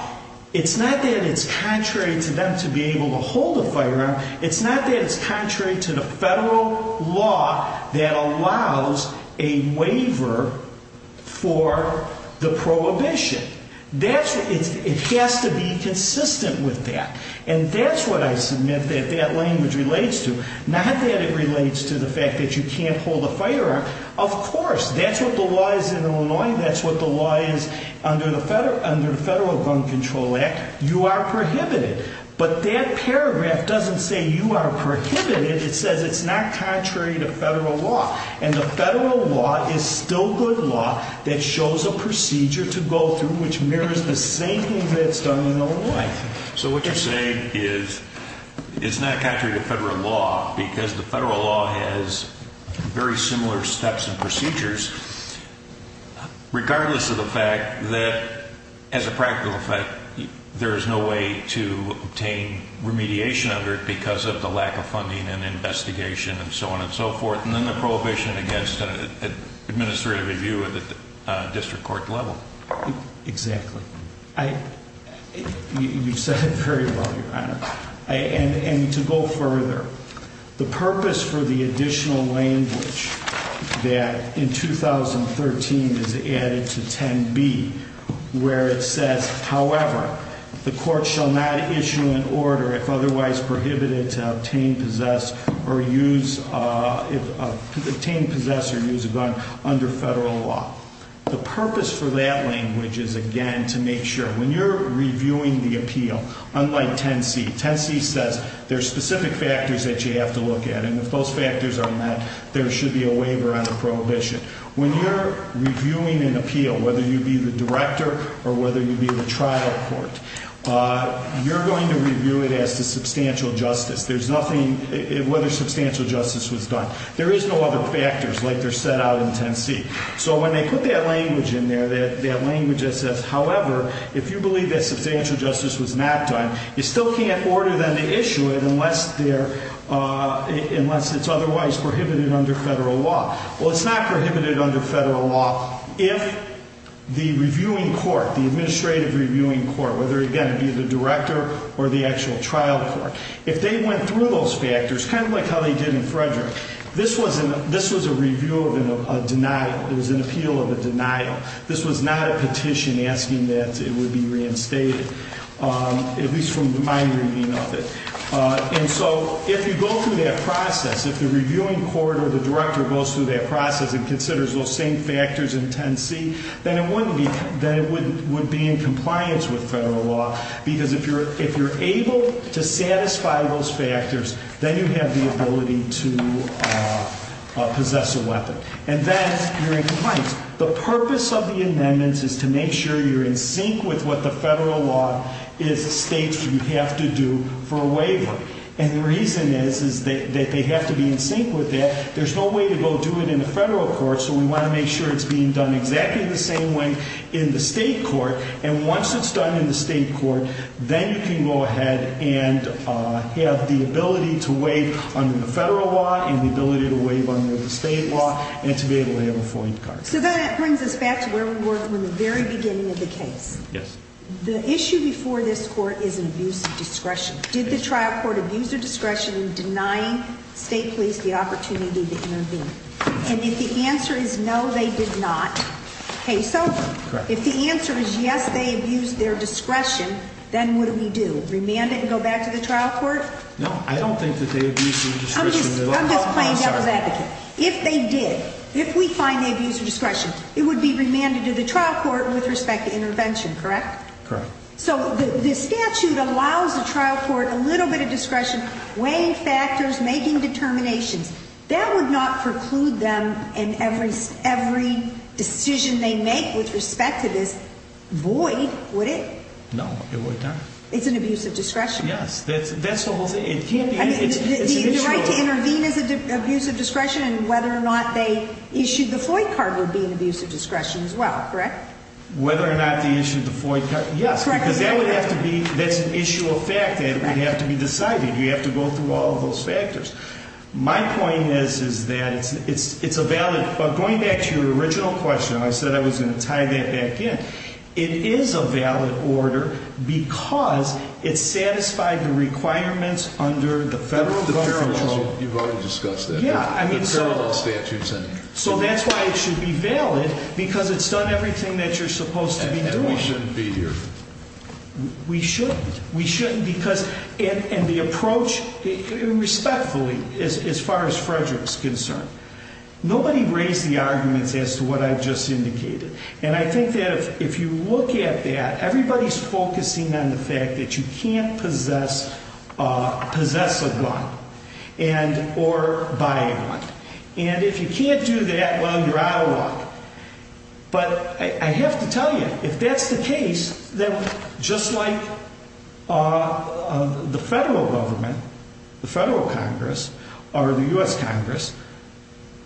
It's not that it's contrary to them to be able to hold a firearm. It's not that it's contrary to the federal law that allows a waiver for the prohibition. It has to be consistent with that. And that's what I submit that that language relates to. Not that it relates to the fact that you can't hold a firearm. Of course, that's what the law is in Illinois. That's what the law is under the Federal Gun Control Act. You are prohibited. But that paragraph doesn't say you are prohibited. It says it's not contrary to federal law. And the federal law is still good law that shows a procedure to go through which mirrors the same thing that's done in Illinois. So what you're saying is it's not contrary to federal law because the federal law has very similar steps and procedures regardless of the fact that, as a practical effect, there is no way to obtain remediation under it because of the lack of funding and investigation and so on and so forth, and then the prohibition against administrative review at the district court level. Exactly. You've said it very well, Your Honor. And to go further, the purpose for the additional language that in 2013 is added to 10b where it says, however, the court shall not issue an order if otherwise prohibited to obtain, possess, or use a gun under federal law. The purpose for that language is, again, to make sure when you're reviewing the appeal, unlike 10c, 10c says there are specific factors that you have to look at, and if those factors are met, there should be a waiver on the prohibition. When you're reviewing an appeal, whether you be the director or whether you be the trial court, you're going to review it as to substantial justice, whether substantial justice was done. There is no other factors like they're set out in 10c. So when they put that language in there, that language that says, however, if you believe that substantial justice was not done, you still can't order them to issue it unless it's otherwise prohibited under federal law. Well, it's not prohibited under federal law if the reviewing court, the administrative reviewing court, whether, again, it be the director or the actual trial court, if they went through those factors, kind of like how they did in Frederick, this was a review of a denial. It was an appeal of a denial. This was not a petition asking that it would be reinstated, at least from my reading of it. And so if you go through that process, if the reviewing court or the director goes through that process and considers those same factors in 10c, then it wouldn't be – then it would be in compliance with federal law because if you're able to satisfy those factors, then you have the ability to possess a weapon, and then you're in compliance. The purpose of the amendments is to make sure you're in sync with what the federal law states you have to do for a waiver. And the reason is that they have to be in sync with that. There's no way to go do it in the federal court, so we want to make sure it's being done exactly the same way in the state court. And once it's done in the state court, then you can go ahead and have the ability to waive under the federal law and the ability to waive under the state law and to be able to have a FOIA card. So that brings us back to where we were from the very beginning of the case. Yes. The issue before this court is an abuse of discretion. Did the trial court abuse their discretion in denying state police the opportunity to intervene? And if the answer is no, they did not, case over. Correct. If the answer is yes, they abused their discretion, then what do we do? Remand it and go back to the trial court? No, I don't think that they abused their discretion. I'm just playing devil's advocate. If they did, if we find they abused their discretion, it would be remanded to the trial court with respect to intervention, correct? Correct. So the statute allows the trial court a little bit of discretion, weighing factors, making determinations. That would not preclude them in every decision they make with respect to this, would it? No, it would not. It's an abuse of discretion. Yes, that's the whole thing. The right to intervene is an abuse of discretion, and whether or not they issued the FOIA card would be an abuse of discretion as well, correct? Whether or not they issued the FOIA card, yes. Because that would have to be, that's an issue of fact that would have to be decided. You have to go through all of those factors. My point is that it's a valid, going back to your original question, I said I was going to tie that back in. It is a valid order because it satisfied the requirements under the federal law. You've already discussed that. Yeah, I mean, so that's why it should be valid, because it's done everything that you're supposed to be doing. And we shouldn't be here. We shouldn't. We shouldn't because, and the approach, respectfully, as far as Frederick's concerned, nobody raised the arguments as to what I've just indicated. And I think that if you look at that, everybody's focusing on the fact that you can't possess a gun or buy a gun. And if you can't do that, well, you're out of luck. But I have to tell you, if that's the case, then just like the federal government, the federal Congress, or the U.S. Congress,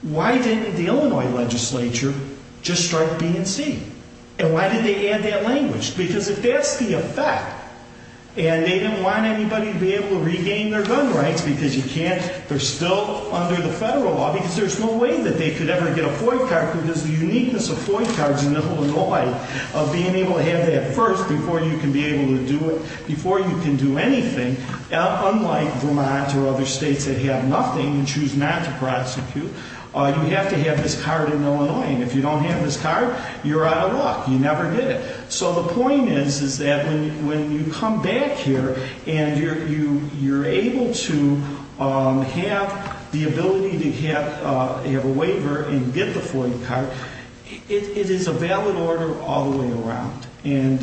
why didn't the Illinois legislature just start BNC? And why did they add that language? Because if that's the effect, and they didn't want anybody to be able to regain their gun rights because you can't, they're still under the federal law because there's no way that they could ever get a FOIA card, because the uniqueness of FOIA cards in Illinois, of being able to have that first before you can be able to do it, before you can do anything, unlike Vermont or other states that have nothing and choose not to prosecute, you have to have this card in Illinois. And if you don't have this card, you're out of luck. You never get it. So the point is, is that when you come back here and you're able to have the ability to have a waiver and get the FOIA card, it is a valid order all the way around. And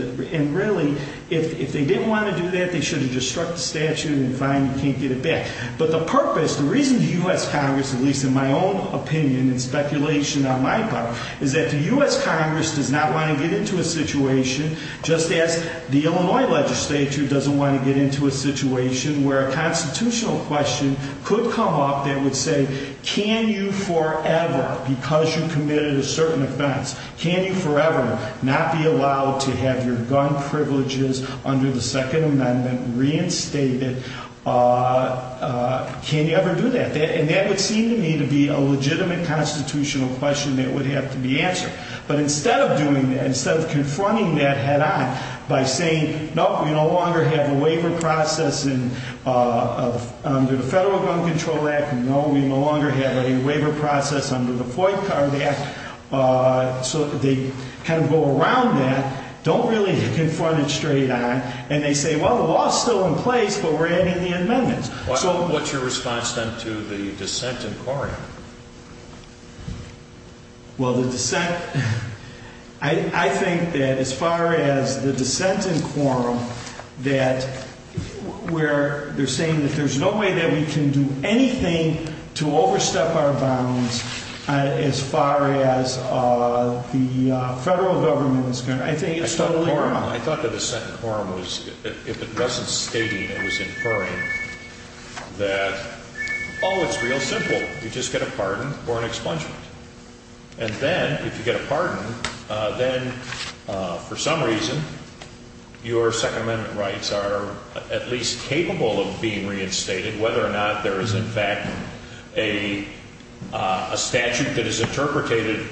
really, if they didn't want to do that, they should have just struck the statute and fine, you can't get it back. But the purpose, the reason the U.S. Congress, at least in my own opinion and speculation on my part, is that the U.S. Congress does not want to get into a situation, just as the Illinois legislature doesn't want to get into a situation where a constitutional question could come up that would say, can you forever, because you committed a certain offense, can you forever not be allowed to have your gun privileges under the Second Amendment reinstated, can you ever do that? And that would seem to me to be a legitimate constitutional question that would have to be answered. But instead of doing that, instead of confronting that head on by saying, no, we no longer have a waiver process under the Federal Gun Control Act, no, we no longer have a waiver process under the FOIA Card Act, so they kind of go around that, don't really confront it straight on, and they say, well, the law is still in place, but we're adding the amendments. So what's your response then to the dissent in quorum? Well, the dissent, I think that as far as the dissent in quorum, that where they're saying that there's no way that we can do anything to overstep our bounds as far as the federal government is concerned, I think it's totally wrong. I thought that the dissent in quorum was, if it wasn't stating, it was inferring that, oh, it's real simple, you just get a pardon or an expungement. And then if you get a pardon, then for some reason your Second Amendment rights are at least capable of being reinstated, whether or not there is, in fact, a statute that is interpreted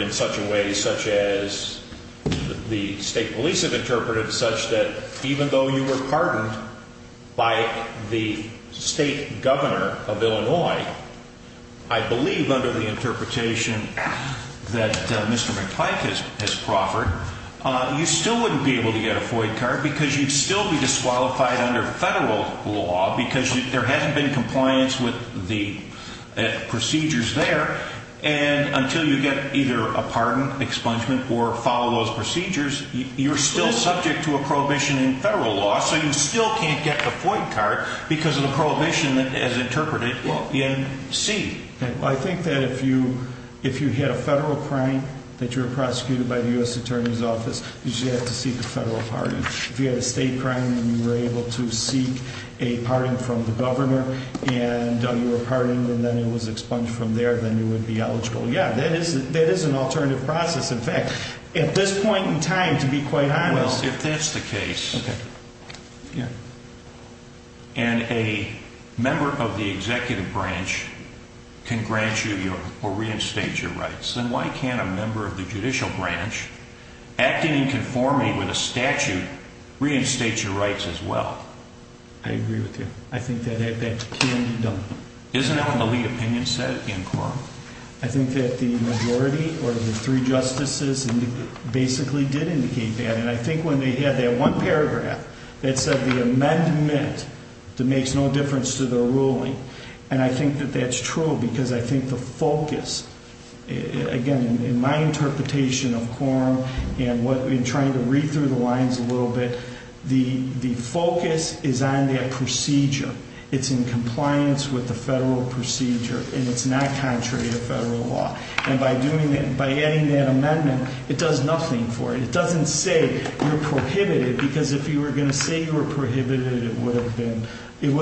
in such a way such as the state police have interpreted, such that even though you were pardoned by the state governor of Illinois, I believe under the interpretation that Mr. McClyke has proffered, you still wouldn't be able to get a FOIA card because you'd still be disqualified under federal law because there hasn't been compliance with the procedures there. And until you get either a pardon, expungement, or follow those procedures, you're still subject to a prohibition in federal law, so you still can't get the FOIA card because of the prohibition as interpreted in C. Well, I think that if you had a federal crime that you were prosecuted by the U.S. Attorney's Office, you should have to seek a federal pardon. If you had a state crime and you were able to seek a pardon from the governor and you were pardoned and then it was expunged from there, then you would be eligible. Yeah, that is an alternative process. In fact, at this point in time, to be quite honest... ...can grant you or reinstate your rights. And why can't a member of the judicial branch, acting in conformity with a statute, reinstate your rights as well? I agree with you. I think that can be done. Isn't that what the lead opinion said in court? I think that the majority or the three justices basically did indicate that. And I think when they had that one paragraph that said the amendment makes no difference to the ruling, and I think that that's true because I think the focus, again, in my interpretation of quorum and trying to read through the lines a little bit, the focus is on that procedure. It's in compliance with the federal procedure and it's not contrary to federal law. And by adding that amendment, it does nothing for you. It doesn't say you're prohibited because if you were going to say you were prohibited, it would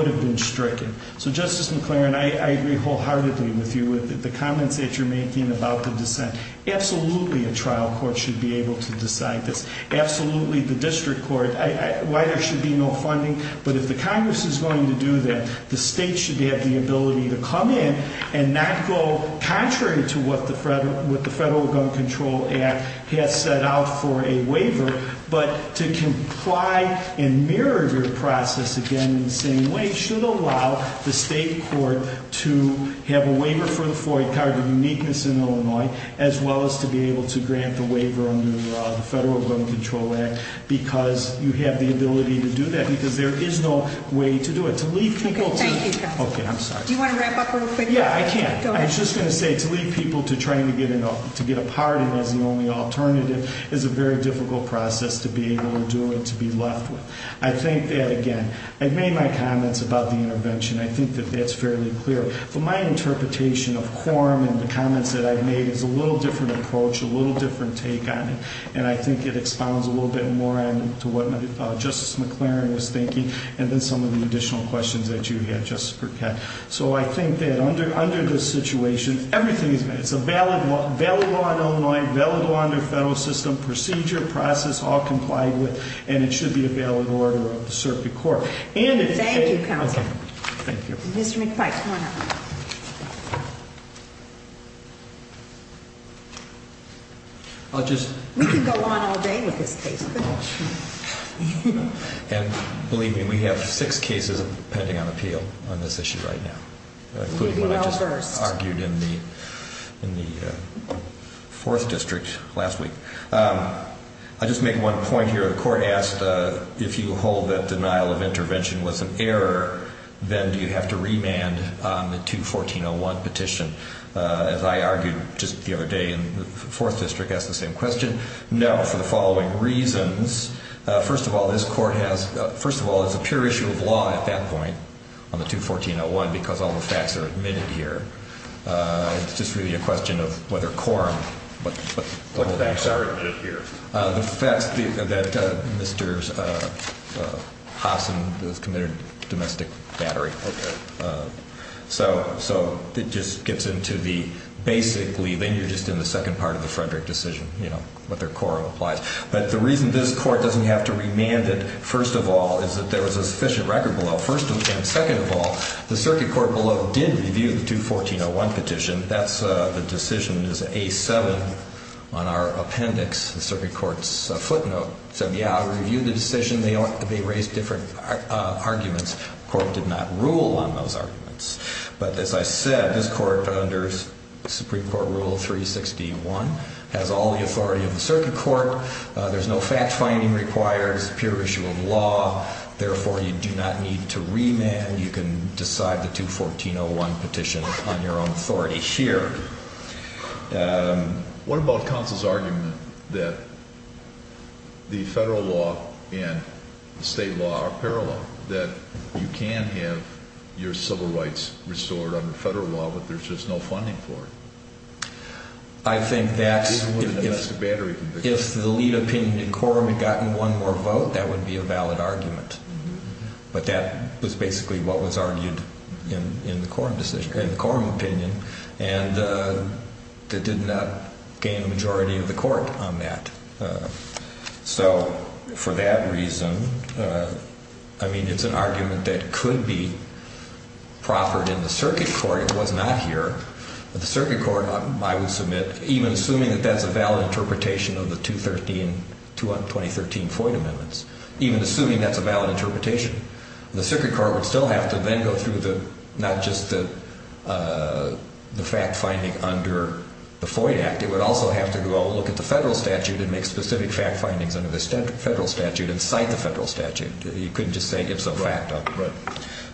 have been stricken. So Justice McLaren, I agree wholeheartedly with you with the comments that you're making about the dissent. Absolutely a trial court should be able to decide this. Absolutely the district court. Why there should be no funding, but if the Congress is going to do that, the state should have the ability to come in and not go contrary to what the Federal Gun Control Act has set out for a waiver, but to comply and mirror your process again in the same way should allow the state court to have a waiver for the Floyd Carter Uniqueness in Illinois, as well as to be able to grant the waiver under the Federal Gun Control Act because you have the ability to do that because there is no way to do it. Okay, thank you. Okay, I'm sorry. Do you want to wrap up real quick? Yeah, I can. I was just going to say to leave people to trying to get a pardon as the only alternative is a very difficult process to be able to do and to be left with. I think that, again, I've made my comments about the intervention. I think that that's fairly clear. But my interpretation of quorum and the comments that I've made is a little different approach, a little different take on it. And I think it expounds a little bit more on to what Justice McLaren was thinking and then some of the additional questions that you had, Justice Burkett. So I think that under this situation, everything is good. It's a valid law in Illinois, valid law under the federal system, procedure, process, all complied with, and it should be a valid order of the circuit court. Thank you, counsel. Thank you. Mr. McPike, come on up. I'll just... We could go on all day with this case. And believe me, we have six cases pending on appeal on this issue right now, including what I just argued in the Fourth District last week. I'll just make one point here. The court asked if you hold that denial of intervention was an error, then do you have to remand on the 2-1401 petition? As I argued just the other day in the Fourth District, asked the same question. No, for the following reasons. First of all, this court has... First of all, it's a pure issue of law at that point on the 2-1401 because all the facts are admitted here. It's just really a question of whether quorum... What facts are admitted here? The facts that Mr. Haasen has committed domestic battery. Okay. So it just gets into the... Basically, then you're just in the second part of the Frederick decision, you know, what their quorum applies. But the reason this court doesn't have to remand it, first of all, is that there was a sufficient record below. First and second of all, the circuit court below did review the 2-1401 petition. That's... The decision is A-7 on our appendix. The circuit court's footnote said, yeah, I reviewed the decision. They raised different arguments. The court did not rule on those arguments. But as I said, this court under Supreme Court Rule 361 has all the authority of the circuit court. There's no fact-finding required. It's a pure issue of law. Therefore, you do not need to remand. You can decide the 2-1401 petition on your own authority here. What about counsel's argument that the federal law and the state law are parallel, that you can have your civil rights restored under federal law, but there's just no funding for it? I think that's... If the lead opinion in quorum had gotten one more vote, that would be a valid argument. But that was basically what was argued in the quorum decision, in the quorum opinion. And it did not gain the majority of the court on that. So, for that reason, I mean, it's an argument that could be proffered in the circuit court. It was not here. But the circuit court, I would submit, even assuming that that's a valid interpretation of the 213-2013 Floyd Amendments, even assuming that's a valid interpretation, the circuit court would still have to then go through not just the fact-finding under the Floyd Act, it would also have to go look at the federal statute and make specific fact-findings under the federal statute and cite the federal statute. You couldn't just say it's a fact.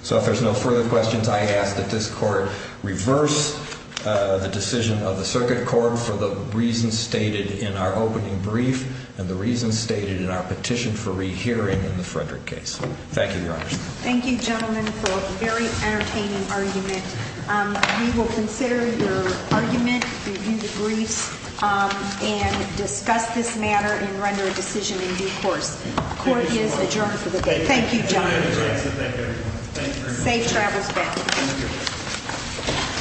So, if there's no further questions, I ask that this court reverse the decision of the circuit court for the reasons stated in our opening brief and the reasons stated in our petition for rehearing in the Frederick case. Thank you, Your Honor. Thank you, gentlemen, for a very entertaining argument. We will consider your argument, review the briefs, and discuss this matter and render a decision in due course. Court is adjourned for the day. Thank you, gentlemen. Safe travels back.